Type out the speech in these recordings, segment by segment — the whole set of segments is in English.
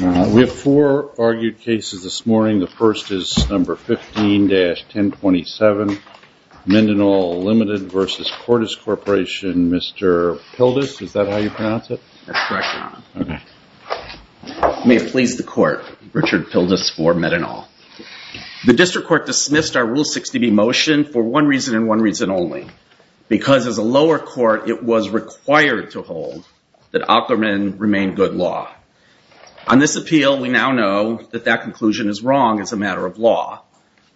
We have four argued cases this morning. The first is No. 15-1027, Medinol Ltd. v. Cordis Corporation. Mr. Pildes, is that how you pronounce it? That's correct, Your Honor. Okay. May it please the Court, Richard Pildes for Medinol. The District Court dismissed our Rule 60B motion for one reason and one reason only. Because as a lower court, it was required to hold that Ackermann remained good law. On this appeal, we now know that that conclusion is wrong as a matter of law.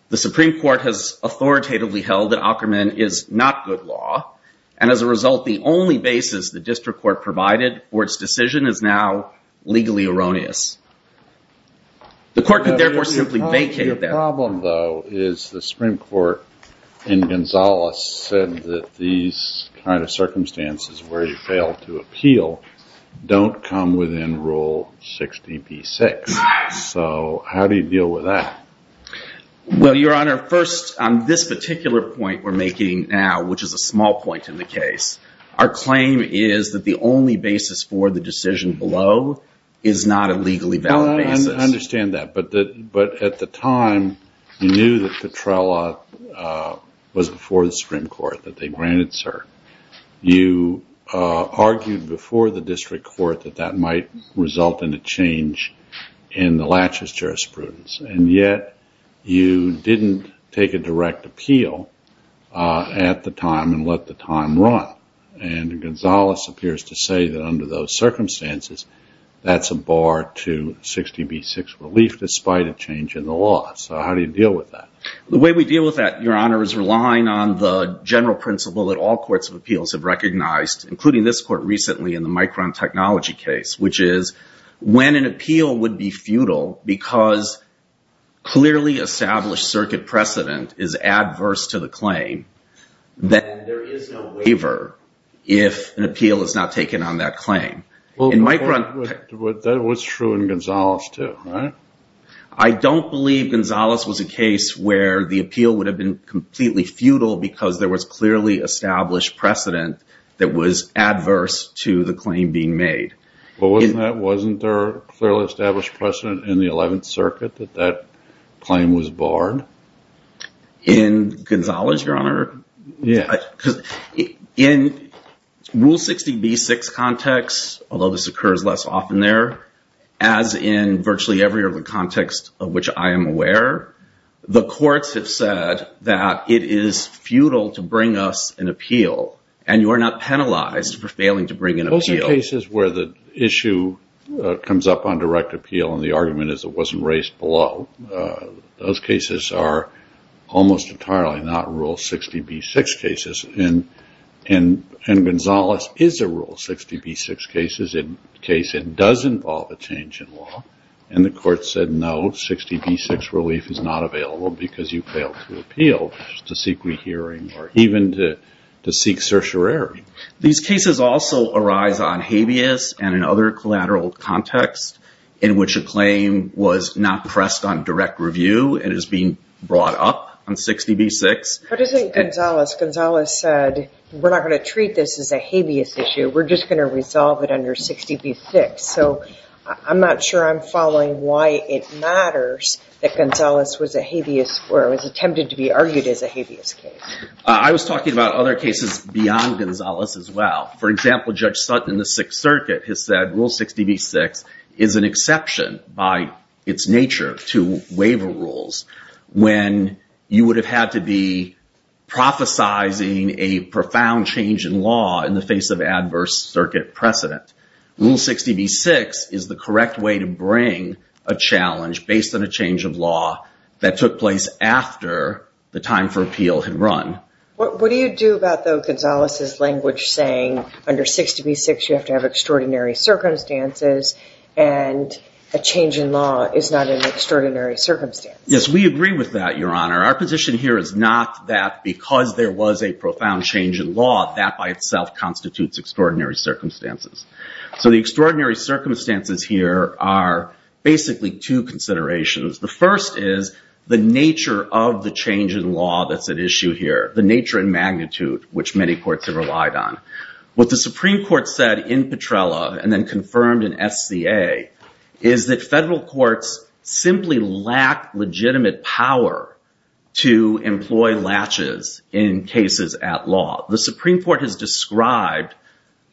The Supreme Court has authoritatively held that Ackermann is not good law. And as a result, the only basis the District Court provided for its decision is now legally erroneous. The Court could therefore simply vacate that. Your problem, though, is the Supreme Court in Gonzales said that these kind of circumstances where you fail to appeal don't come within Rule 60B-6. So how do you deal with that? Well, Your Honor, first, on this particular point we're making now, which is a small point in the case, our claim is that the only basis for the decision below is not a legally valid basis. I understand that. But at the time, you knew that Petrella was before the Supreme Court, that they granted cert. You argued before the District Court that that might result in a change in the laches jurisprudence. And yet you didn't take a direct appeal at the time and let the time run. And Gonzales appears to say that under those circumstances, that's a bar to 60B-6 relief despite a change in the law. So how do you deal with that? The way we deal with that, Your Honor, is relying on the general principle that all courts of appeals have recognized, including this court recently in the Micron Technology case, which is when an appeal would be futile because clearly established circuit precedent is adverse to the claim, then there is no waiver if an appeal is not taken on that claim. That was true in Gonzales too, right? I don't believe Gonzales was a case where the appeal would have been completely futile because there was clearly established precedent that was adverse to the claim being made. Wasn't there clearly established precedent in the 11th Circuit that that claim was barred? In Gonzales, Your Honor? Yeah. In Rule 60B-6 context, although this occurs less often there, as in virtually every other context of which I am aware, the courts have said that it is futile to bring us an appeal and you are not penalized for failing to bring an appeal. Those are cases where the issue comes up on direct appeal and the argument is it wasn't raised below. Those cases are almost entirely not Rule 60B-6 cases, and Gonzales is a Rule 60B-6 case. It does involve a change in law, and the court said no, 60B-6 relief is not available because you failed to appeal, which is to seek rehearing or even to seek certiorari. These cases also arise on habeas and in other collateral contexts in which a claim was not pressed on direct review and is being brought up on 60B-6. What is it Gonzales? Gonzales said we're not going to treat this as a habeas issue. We're just going to resolve it under 60B-6, so I'm not sure I'm following why it matters that Gonzales was a habeas or was attempted to be argued as a habeas case. I was talking about other cases beyond Gonzales as well. For example, Judge Sutton in the Sixth Circuit has said Rule 60B-6 is an exception by its nature to waiver rules when you would have had to be prophesizing a profound change in law in the face of adverse circuit precedent. Rule 60B-6 is the correct way to bring a challenge based on a change of law that took place after the time for appeal had run. What do you do about, though, Gonzales' language saying under 60B-6 you have to have extraordinary circumstances and a change in law is not an extraordinary circumstance? Yes, we agree with that, Your Honor. Our position here is not that because there was a profound change in law that by itself constitutes extraordinary circumstances. So the extraordinary circumstances here are basically two considerations. The first is the nature of the change in law that's at issue here, the nature and magnitude which many courts have relied on. What the Supreme Court said in Petrella and then confirmed in SCA is that federal courts simply lack legitimate power to employ latches in cases at law. The Supreme Court has described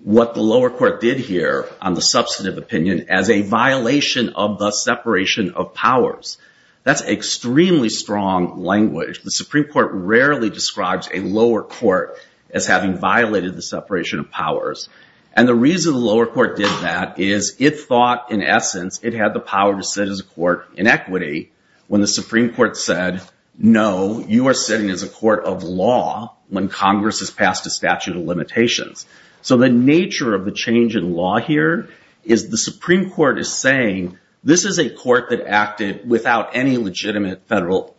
what the lower court did here on the substantive opinion as a violation of the separation of powers. That's extremely strong language. The Supreme Court rarely describes a lower court as having violated the separation of powers. And the reason the lower court did that is it thought, in essence, it had the power to sit as a court in equity when the Supreme Court said, no, you are sitting as a court of law when Congress has passed a statute of limitations. So the nature of the change in law here is the Supreme Court is saying this is a court that acted without any legitimate federal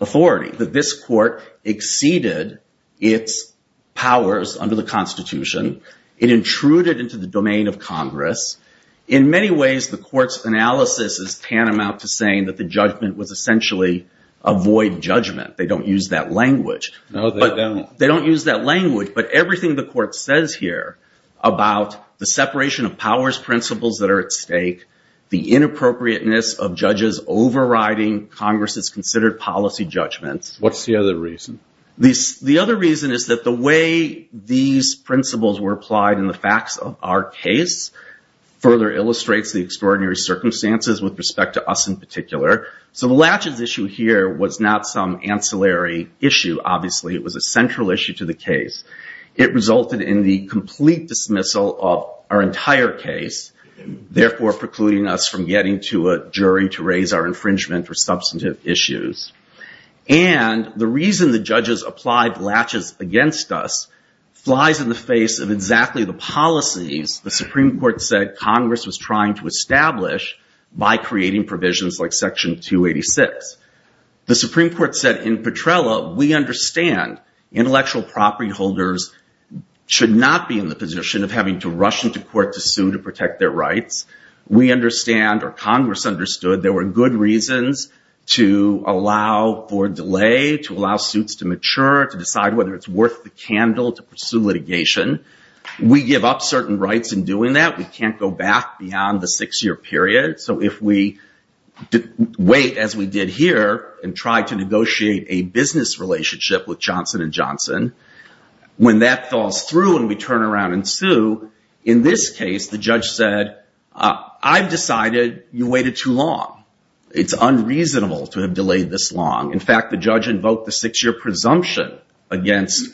authority, that this court exceeded its powers under the Constitution. It intruded into the domain of Congress. In many ways, the court's analysis is tantamount to saying that the judgment was essentially a void judgment. They don't use that language. No, they don't. They don't use that language. But everything the court says here about the separation of powers principles that are at stake, the inappropriateness of judges overriding Congress's considered policy judgments. What's the other reason? The other reason is that the way these principles were applied in the facts of our case further illustrates the extraordinary circumstances with respect to us in particular. So the latches issue here was not some ancillary issue, obviously. It was a central issue to the case. It resulted in the complete dismissal of our entire case, therefore precluding us from getting to a jury to raise our infringement or substantive issues. And the reason the judges applied latches against us flies in the face of exactly the policies the Supreme Court said Congress was trying to establish by creating provisions like Section 286. The Supreme Court said in Petrella, we understand intellectual property holders should not be in the position of having to rush into court to sue to protect their rights. We understand, or Congress understood, there were good reasons to allow for delay, to allow suits to mature, to decide whether it's worth the candle to pursue litigation. We give up certain rights in doing that. We can't go back beyond the six-year period. So if we wait, as we did here, and try to negotiate a business relationship with Johnson & Johnson, when that falls through and we turn around and sue, in this case, the judge said, I've decided you waited too long. It's unreasonable to have delayed this long. In fact, the judge invoked the six-year presumption against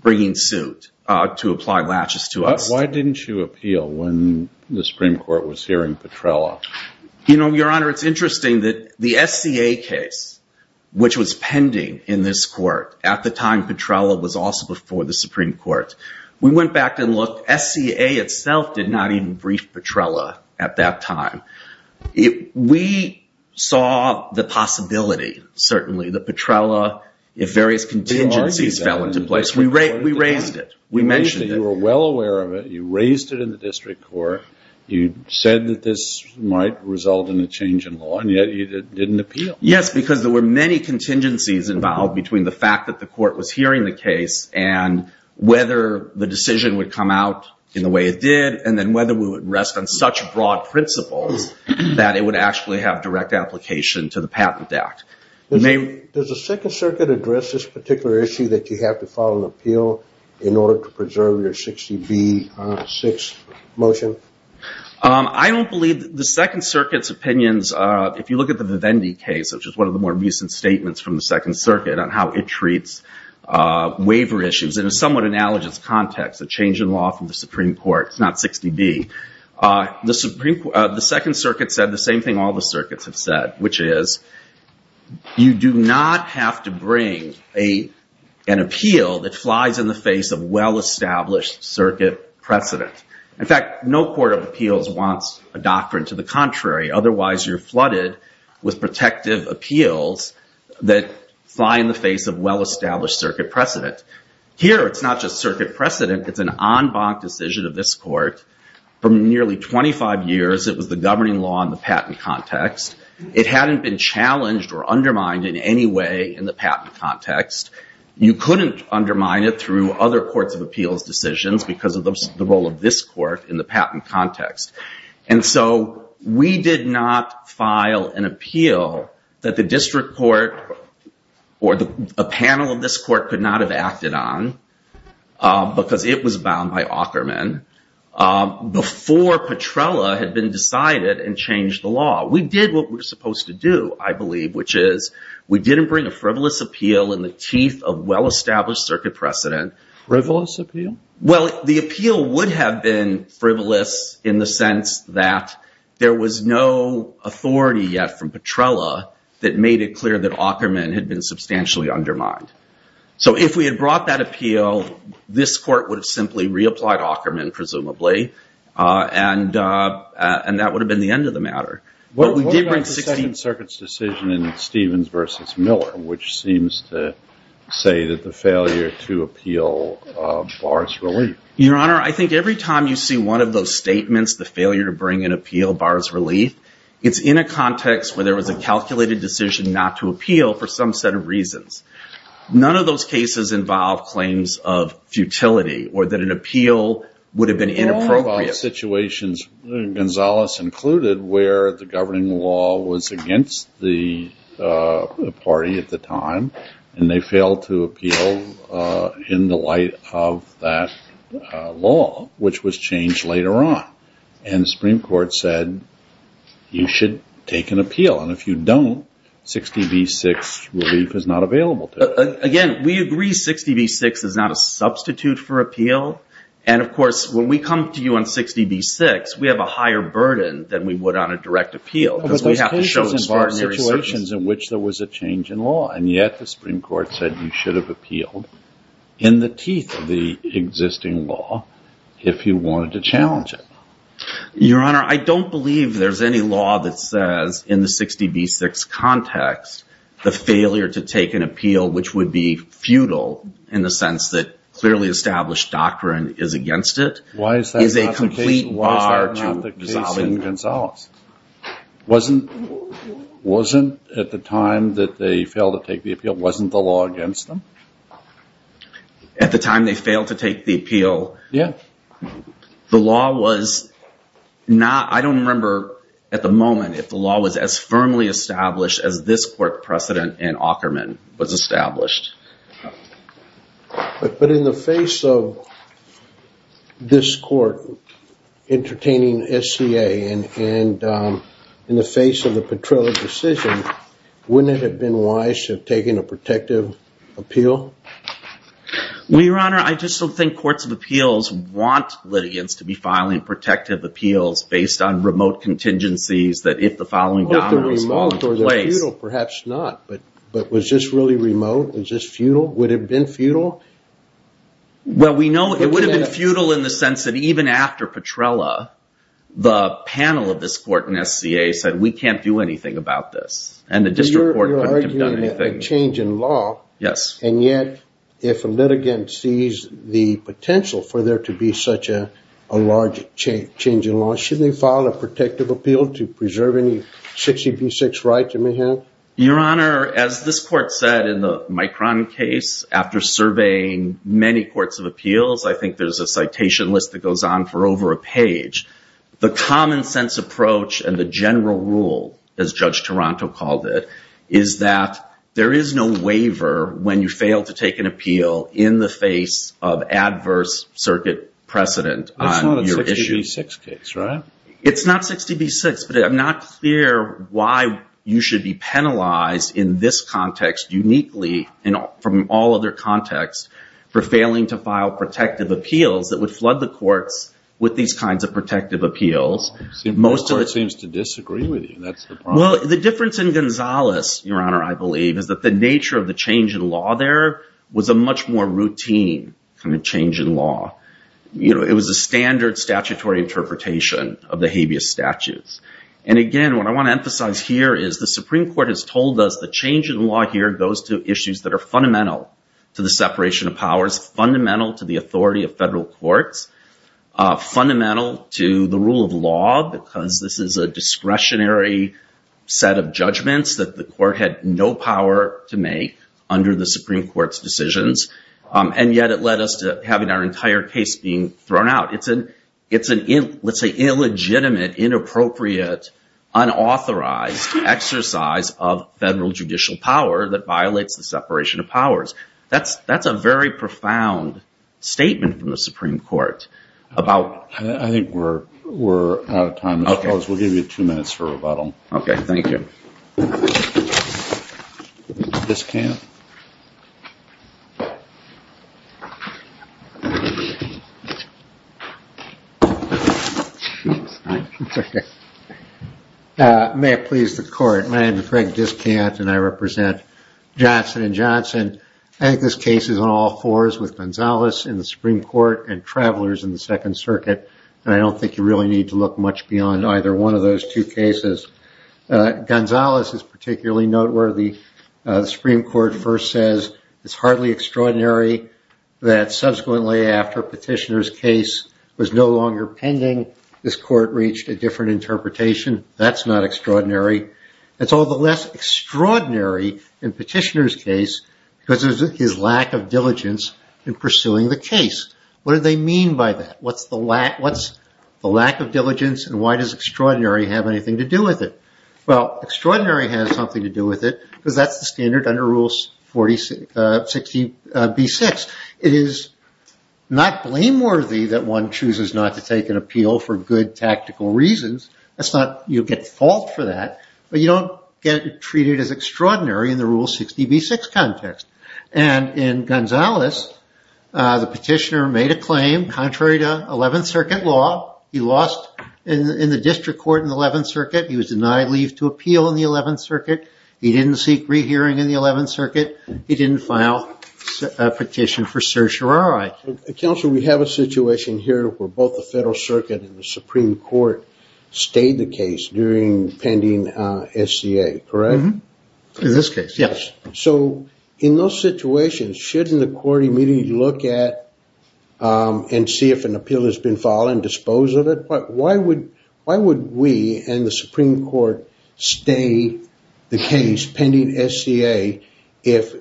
bringing suit to apply latches to us. Why didn't you appeal when the Supreme Court was hearing Petrella? Your Honor, it's interesting that the SCA case, which was pending in this court at the time Petrella was also before the Supreme Court, we went back and looked. SCA itself did not even brief Petrella at that time. We saw the possibility, certainly, that Petrella, if various contingencies fell into place, we raised it. You mentioned that you were well aware of it. You raised it in the district court. You said that this might result in a change in law, and yet you didn't appeal. Yes, because there were many contingencies involved between the fact that the court was hearing the case and whether the decision would come out in the way it did, and then whether we would rest on such broad principles that it would actually have direct application to the Patent Act. Does the Second Circuit address this particular issue that you have to file an appeal in order to preserve your 60B6 motion? I don't believe the Second Circuit's opinions, if you look at the Vivendi case, which is one of the more recent statements from the Second Circuit on how it treats waiver issues in a somewhat analogous context, a change in law from the Supreme Court, not 60B. The Second Circuit said the same thing all the circuits have said, which is you do not have to bring an appeal that flies in the face of well-established circuit precedent. In fact, no court of appeals wants a doctrine to the contrary. Otherwise, you're flooded with protective appeals that fly in the face of well-established circuit precedent. Here, it's not just circuit precedent. It's an en banc decision of this court. For nearly 25 years, it was the governing law in the patent context. It hadn't been challenged or undermined in any way in the patent context. You couldn't undermine it through other courts of appeals decisions because of the role of this court in the patent context. We did not file an appeal that the district court or a panel of this court could not have acted on because it was bound by Aukerman before Petrella had been decided and changed the law. We did what we're supposed to do, I believe, which is we didn't bring a frivolous appeal in the teeth of well-established circuit precedent. Frivolous appeal? Well, the appeal would have been frivolous in the sense that there was no authority yet from Petrella that made it clear that Aukerman had been substantially undermined. So if we had brought that appeal, this court would have simply reapplied Aukerman, presumably, and that would have been the end of the matter. What about the Second Circuit's decision in Stevens v. Miller, which seems to say that the failure to appeal bars relief? Your Honor, I think every time you see one of those statements, the failure to bring an appeal bars relief, it's in a context where there was a calculated decision not to appeal for some set of reasons. None of those cases involve claims of futility or that an appeal would have been inappropriate. Well, it involved situations, Gonzalez included, where the governing law was against the party at the time, and they failed to appeal in the light of that law, which was changed later on. And the Supreme Court said you should take an appeal, and if you don't, 60 v. 6 relief is not available to you. Again, we agree 60 v. 6 is not a substitute for appeal. And, of course, when we come to you on 60 v. 6, we have a higher burden than we would on a direct appeal, because we have to show those situations in which there was a change in law, and yet the Supreme Court said you should have appealed in the teeth of the existing law if you wanted to challenge it. Your Honor, I don't believe there's any law that says in the 60 v. 6 context the failure to take an appeal, which would be futile in the sense that clearly established doctrine is against it. Why is that not the case in Gonzalez? Wasn't at the time that they failed to take the appeal, wasn't the law against them? At the time they failed to take the appeal? Yeah. The law was not, I don't remember at the moment, if the law was as firmly established as this court precedent in Aukerman was established. But in the face of this court entertaining SCA and in the face of the Petrella decision, wouldn't it have been wise to have taken a protective appeal? Well, Your Honor, I just don't think courts of appeals want litigants to be filing protective appeals based on remote contingencies that if the following dominoes fall into place. Perhaps not, but was this really remote? Was this futile? Would it have been futile? Well, we know it would have been futile in the sense that even after Petrella, the panel of this court in SCA said we can't do anything about this, and the district court couldn't have done anything. A change in law. Yes. And yet if a litigant sees the potential for there to be such a large change in law, shouldn't they file a protective appeal to preserve any 60B6 rights it may have? Your Honor, as this court said in the Micron case, after surveying many courts of appeals, I think there's a citation list that goes on for over a page. The common sense approach and the general rule, as Judge Taranto called it, is that there is no waiver when you fail to take an appeal in the face of adverse circuit precedent. That's not a 60B6 case, right? It's not 60B6, but I'm not clear why you should be penalized in this context uniquely from all other contexts for failing to file protective appeals that would flood the courts with these kinds of protective appeals. Most courts seem to disagree with you. The difference in Gonzales, Your Honor, I believe, is that the nature of the change in law there was a much more routine kind of change in law. It was a standard statutory interpretation of the habeas statutes. And again, what I want to emphasize here is the Supreme Court has told us the change in law here goes to issues that are fundamental to the separation of powers, fundamental to the authority of federal courts, fundamental to the rule of law, because this is a discretionary set of judgments that the court had no power to make under the Supreme Court's decisions. And yet it led us to having our entire case being thrown out. It's an illegitimate, inappropriate, unauthorized exercise of federal judicial power that violates the separation of powers. That's a very profound statement from the Supreme Court. I think we're out of time, Mr. Gonzales. We'll give you two minutes for rebuttal. Okay, thank you. May it please the Court. My name is Craig Discant, and I represent Johnson & Johnson. I think this case is on all fours with Gonzales in the Supreme Court and Travelers in the Second Circuit, and I don't think you really need to look much beyond either one of those two cases. Gonzales is particularly noteworthy. The Supreme Court first says, it's hardly extraordinary that subsequently after Petitioner's case was no longer pending, this court reached a different interpretation. That's not extraordinary. It's all the less extraordinary in Petitioner's case because of his lack of diligence in pursuing the case. What do they mean by that? What's the lack of diligence, and why does extraordinary have anything to do with it? Well, extraordinary has something to do with it because that's the standard under Rule 60b-6. It is not blameworthy that one chooses not to take an appeal for good tactical reasons. You get fault for that, but you don't get treated as extraordinary in the Rule 60b-6 context. And in Gonzales, the Petitioner made a claim contrary to Eleventh Circuit law. He lost in the district court in the Eleventh Circuit. He was denied leave to appeal in the Eleventh Circuit. He didn't seek rehearing in the Eleventh Circuit. He didn't file a petition for certiorari. Counsel, we have a situation here where both the Federal Circuit and the Supreme Court stayed the case during pending SCA, correct? In this case, yes. So in those situations, shouldn't the court immediately look at and see if an appeal has been filed and dispose of it? Why would we and the Supreme Court stay the case pending SCA if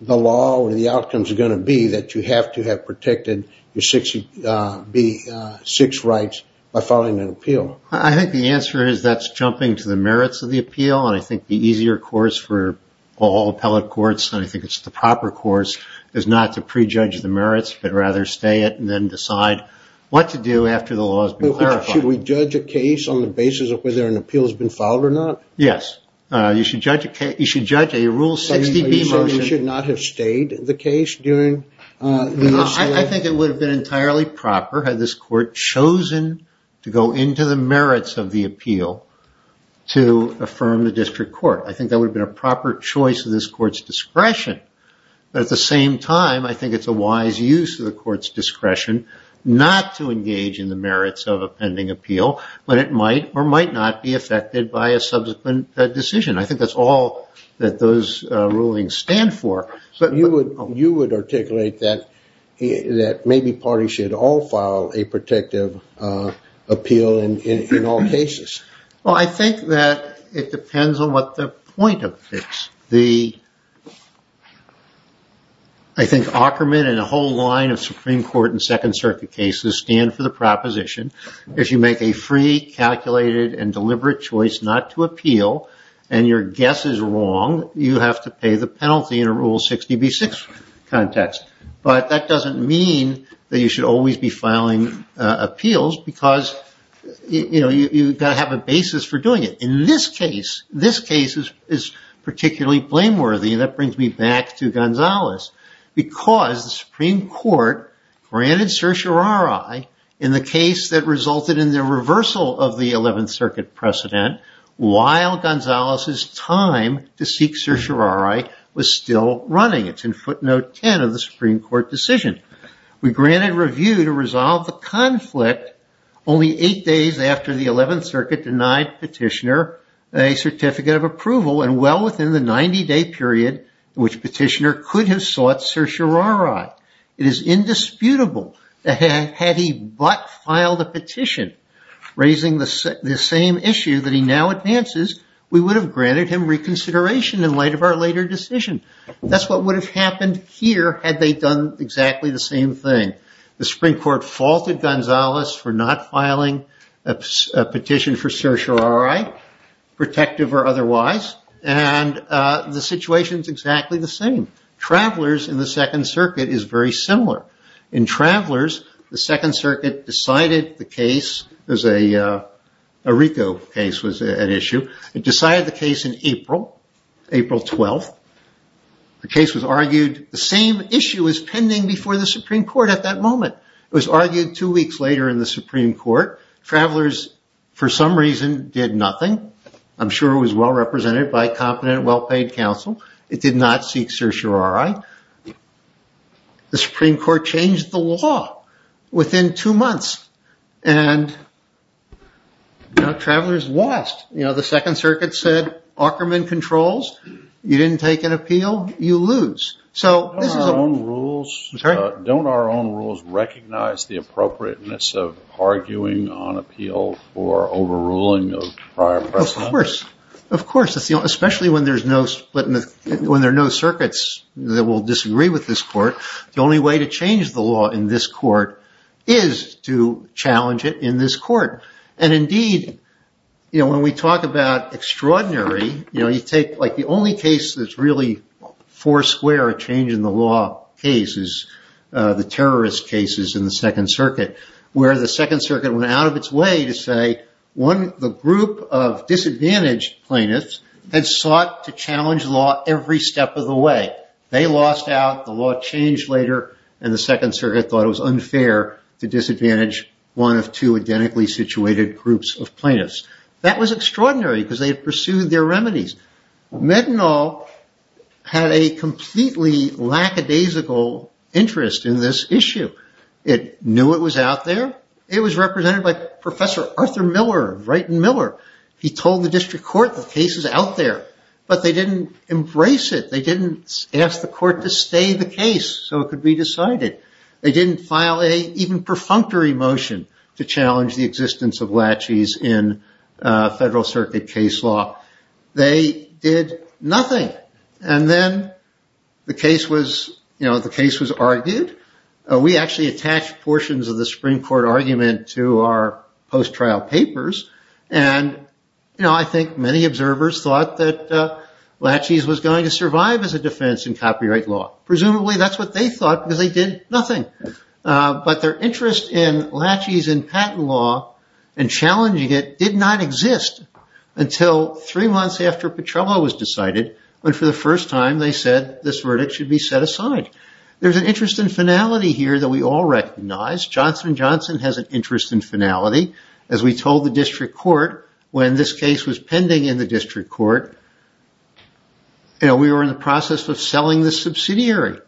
the law or the outcomes are going to be that you have to have protected your 60b-6 rights by filing an appeal? I think the answer is that's jumping to the merits of the appeal, and I think the easier course for all appellate courts, and I think it's the proper course, is not to prejudge the merits, but rather stay it and then decide what to do after the law has been clarified. Should we judge a case on the basis of whether an appeal has been filed or not? Yes. You should judge a Rule 60b motion. Are you saying we should not have stayed the case during the SCA? I think it would have been entirely proper had this court chosen to go into the merits of the appeal to affirm the district court. I think that would have been a proper choice of this court's discretion. But at the same time, I think it's a wise use of the court's discretion not to engage in the merits of a pending appeal when it might or might not be affected by a subsequent decision. I think that's all that those rulings stand for. You would articulate that maybe parties should all file a protective appeal in all cases. Well, I think that it depends on what the point of it is. I think Ackerman and a whole line of Supreme Court and Second Circuit cases stand for the proposition, if you make a free, calculated, and deliberate choice not to appeal, and your guess is wrong, you have to pay the penalty in a Rule 60b-6 context. But that doesn't mean that you should always be filing appeals because you've got to have a basis for doing it. In this case, this case is particularly blameworthy, and that brings me back to Gonzalez, because the Supreme Court granted certiorari in the case that resulted in the reversal of the 11th Circuit precedent while Gonzalez's time to seek certiorari was still running. It's in footnote 10 of the Supreme Court decision. We granted review to resolve the conflict only eight days after the 11th Circuit denied Petitioner a certificate of approval and well within the 90-day period in which Petitioner could have sought certiorari. It is indisputable that had he but filed a petition raising the same issue that he now advances, we would have granted him reconsideration in light of our later decision. That's what would have happened here had they done exactly the same thing. The Supreme Court faulted Gonzalez for not filing a petition for certiorari, protective or otherwise, and the situation is exactly the same. Travelers in the Second Circuit is very similar. In Travelers, the Second Circuit decided the case, a RICO case was at issue. It decided the case in April, April 12th. The case was argued. The same issue is pending before the Supreme Court at that moment. It was argued two weeks later in the Supreme Court. Travelers, for some reason, did nothing. I'm sure it was well represented by competent, well-paid counsel. It did not seek certiorari. The Supreme Court changed the law within two months, and Travelers lost. The Second Circuit said, Ockerman controls, you didn't take an appeal, you lose. Don't our own rules recognize the appropriateness of arguing on appeal for overruling of prior precedent? Of course. Especially when there are no circuits that will disagree with this court. The only way to change the law in this court is to challenge it in this court. Indeed, when we talk about extraordinary, you take the only case that's really four square change in the law case is the terrorist cases in the Second Circuit, where the Second Circuit went out of its way to say, the group of disadvantaged plaintiffs had sought to challenge law every step of the way. They lost out, the law changed later, and the Second Circuit thought it was unfair to disadvantage one of two identically situated groups of plaintiffs. That was extraordinary, because they had pursued their remedies. Methanol had a completely lackadaisical interest in this issue. It knew it was out there. It was represented by Professor Arthur Miller, Wright and Miller. He told the District Court, the case is out there. But they didn't embrace it. They didn't ask the court to stay the case so it could be decided. They didn't file an even perfunctory motion to challenge the existence of laches in Federal Circuit case law. They did nothing. And then the case was argued. We actually attached portions of the Supreme Court argument to our post-trial papers. I think many observers thought that laches was going to survive as a defense in copyright law. Presumably that's what they thought, because they did nothing. But their interest in laches in patent law and challenging it did not exist until three months after Petrello was decided, when for the first time they said this verdict should be set aside. There's an interest in finality here that we all recognize. Johnson & Johnson has an interest in finality. As we told the District Court, when this case was pending in the District Court, we were in the process of selling the subsidiary.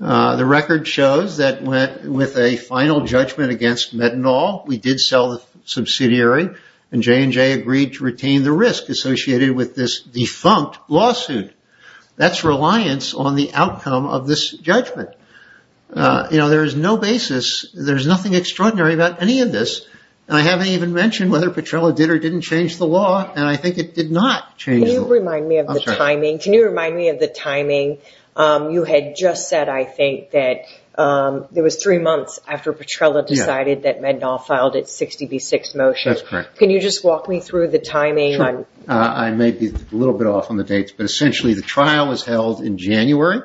The record shows that with a final judgment against Methanol, we did sell the subsidiary. And J&J agreed to retain the risk associated with this defunct lawsuit. That's reliance on the outcome of this judgment. There's no basis, there's nothing extraordinary about any of this. I haven't even mentioned whether Petrello did or didn't change the law, and I think it did not change the law. Can you remind me of the timing? You had just said, I think, that it was three months after Petrello decided that Methanol filed its 60 v. 6 motion. Can you just walk me through the timing? I may be a little bit off on the dates, but essentially the trial was held in January,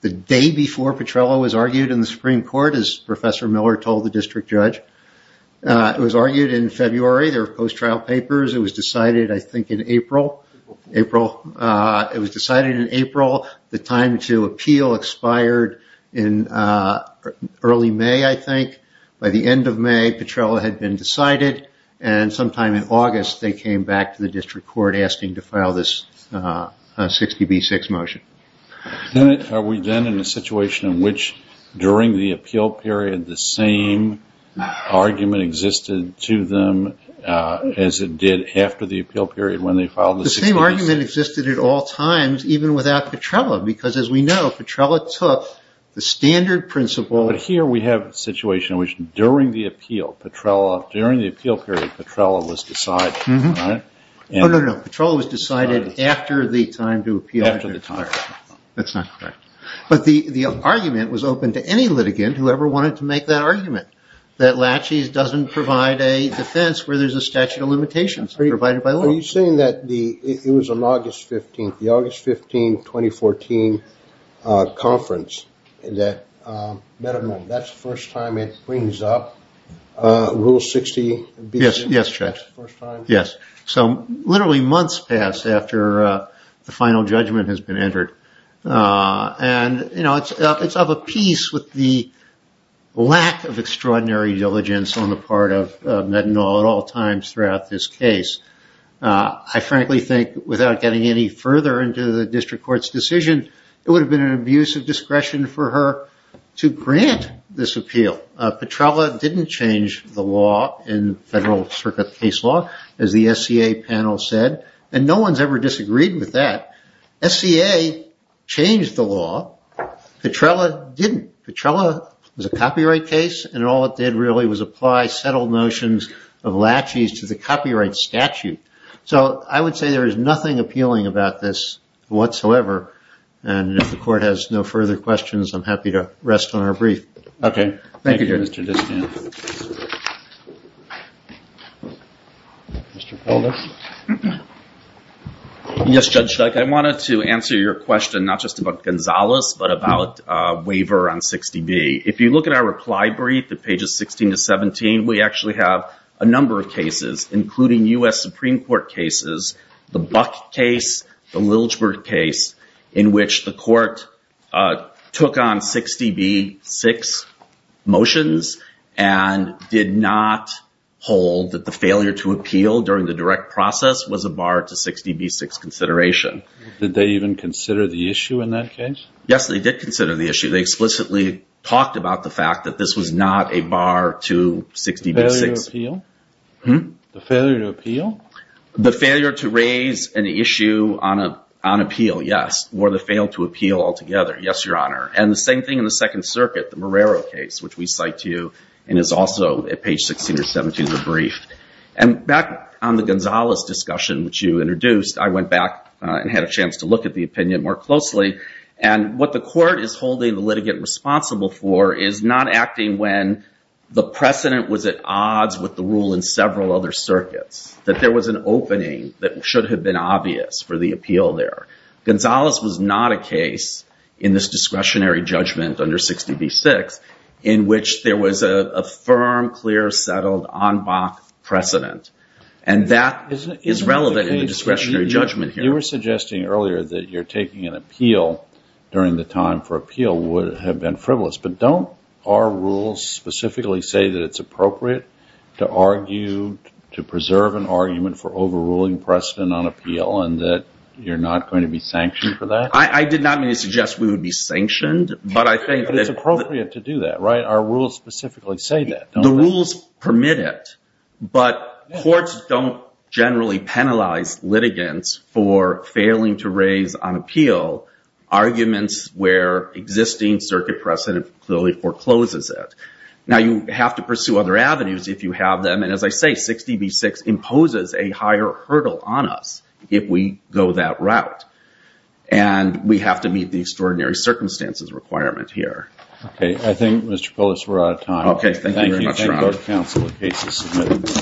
the day before Petrello was argued in the Supreme Court, as Professor Miller told the District Judge. It was argued in February. There were post-trial papers. It was decided, I think, in April. It was decided in April. The time to appeal expired in early May, I think. By the end of May, Petrello had been decided, and sometime in August they came back to the District Court asking to file this 60 v. 6 motion. Are we then in a situation in which, during the appeal period, the same argument existed to them as it did after the appeal period when they filed the 60 v. 6? The same argument existed at all times, even without Petrello, because, as we know, Petrello took the standard principle. But here we have a situation in which, during the appeal period, Petrello was decided. No, no, no. Petrello was decided after the time to appeal period expired. That's not correct. But the argument was open to any litigant who ever wanted to make that argument, that Latches doesn't provide a defense where there's a statute of limitations provided by law. Are you saying that it was on August 15th, the August 15, 2014 conference, that that's the first time it brings up Rule 60 v. 6? Yes, yes. So literally months passed after the final judgment has been entered. And, you know, it's of a piece with the lack of extraordinary diligence on the part of Metinol at all times throughout this case. I frankly think without getting any further into the district court's decision, it would have been an abuse of discretion for her to grant this appeal. Petrello didn't change the law in federal circuit case law, as the SCA panel said. And no one's ever disagreed with that. SCA changed the law. Petrello didn't. Petrello was a copyright case. And all it did really was apply settled notions of Latches to the copyright statute. So I would say there is nothing appealing about this whatsoever. And if the court has no further questions, I'm happy to rest on our brief. Okay. Thank you, Judge. Mr. Felder? Yes, Judge, I wanted to answer your question not just about Gonzalez, but about waiver on 60B. If you look at our reply brief at pages 16 to 17, we actually have a number of cases, including U.S. Supreme Court cases, the Buck case, the Liljberg case, in which the court took on 60B-6 motions and did not hold that the failure to appeal during the direct process was a bar to 60B-6 consideration. Did they even consider the issue in that case? Yes, they did consider the issue. They explicitly talked about the fact that this was not a bar to 60B-6. The failure to appeal? The failure to raise an issue on appeal, yes, or the fail to appeal altogether, yes, Your Honor. And the same thing in the Second Circuit, the Morero case, which we cite to you and is also at page 16 or 17 of the brief. And back on the Gonzalez discussion, which you introduced, I went back and had a chance to look at the opinion more closely. And what the court is holding the litigant responsible for is not acting when the precedent was at odds with the rule in several other circuits, that there was an opening that should have been obvious for the appeal there. Gonzalez was not a case in this discretionary judgment under 60B-6 in which there was a firm, clear, settled, en bas precedent. And that is relevant in the discretionary judgment here. You were suggesting earlier that you're taking an appeal during the time for appeal would have been frivolous. But don't our rules specifically say that it's appropriate to argue, to preserve an argument for overruling precedent on appeal and that you're not going to be sanctioned for that? I did not mean to suggest we would be sanctioned, but I think that— But it's appropriate to do that, right? Our rules specifically say that, don't they? The rules permit it. But courts don't generally penalize litigants for failing to raise on appeal arguments where existing circuit precedent clearly forecloses it. Now, you have to pursue other avenues if you have them. And as I say, 60B-6 imposes a higher hurdle on us if we go that route. And we have to meet the extraordinary circumstances requirement here. Okay. I think, Mr. Poulos, we're out of time. Okay. Thank you very much, Ron. Thank you. Thank all the counsel and cases submitted.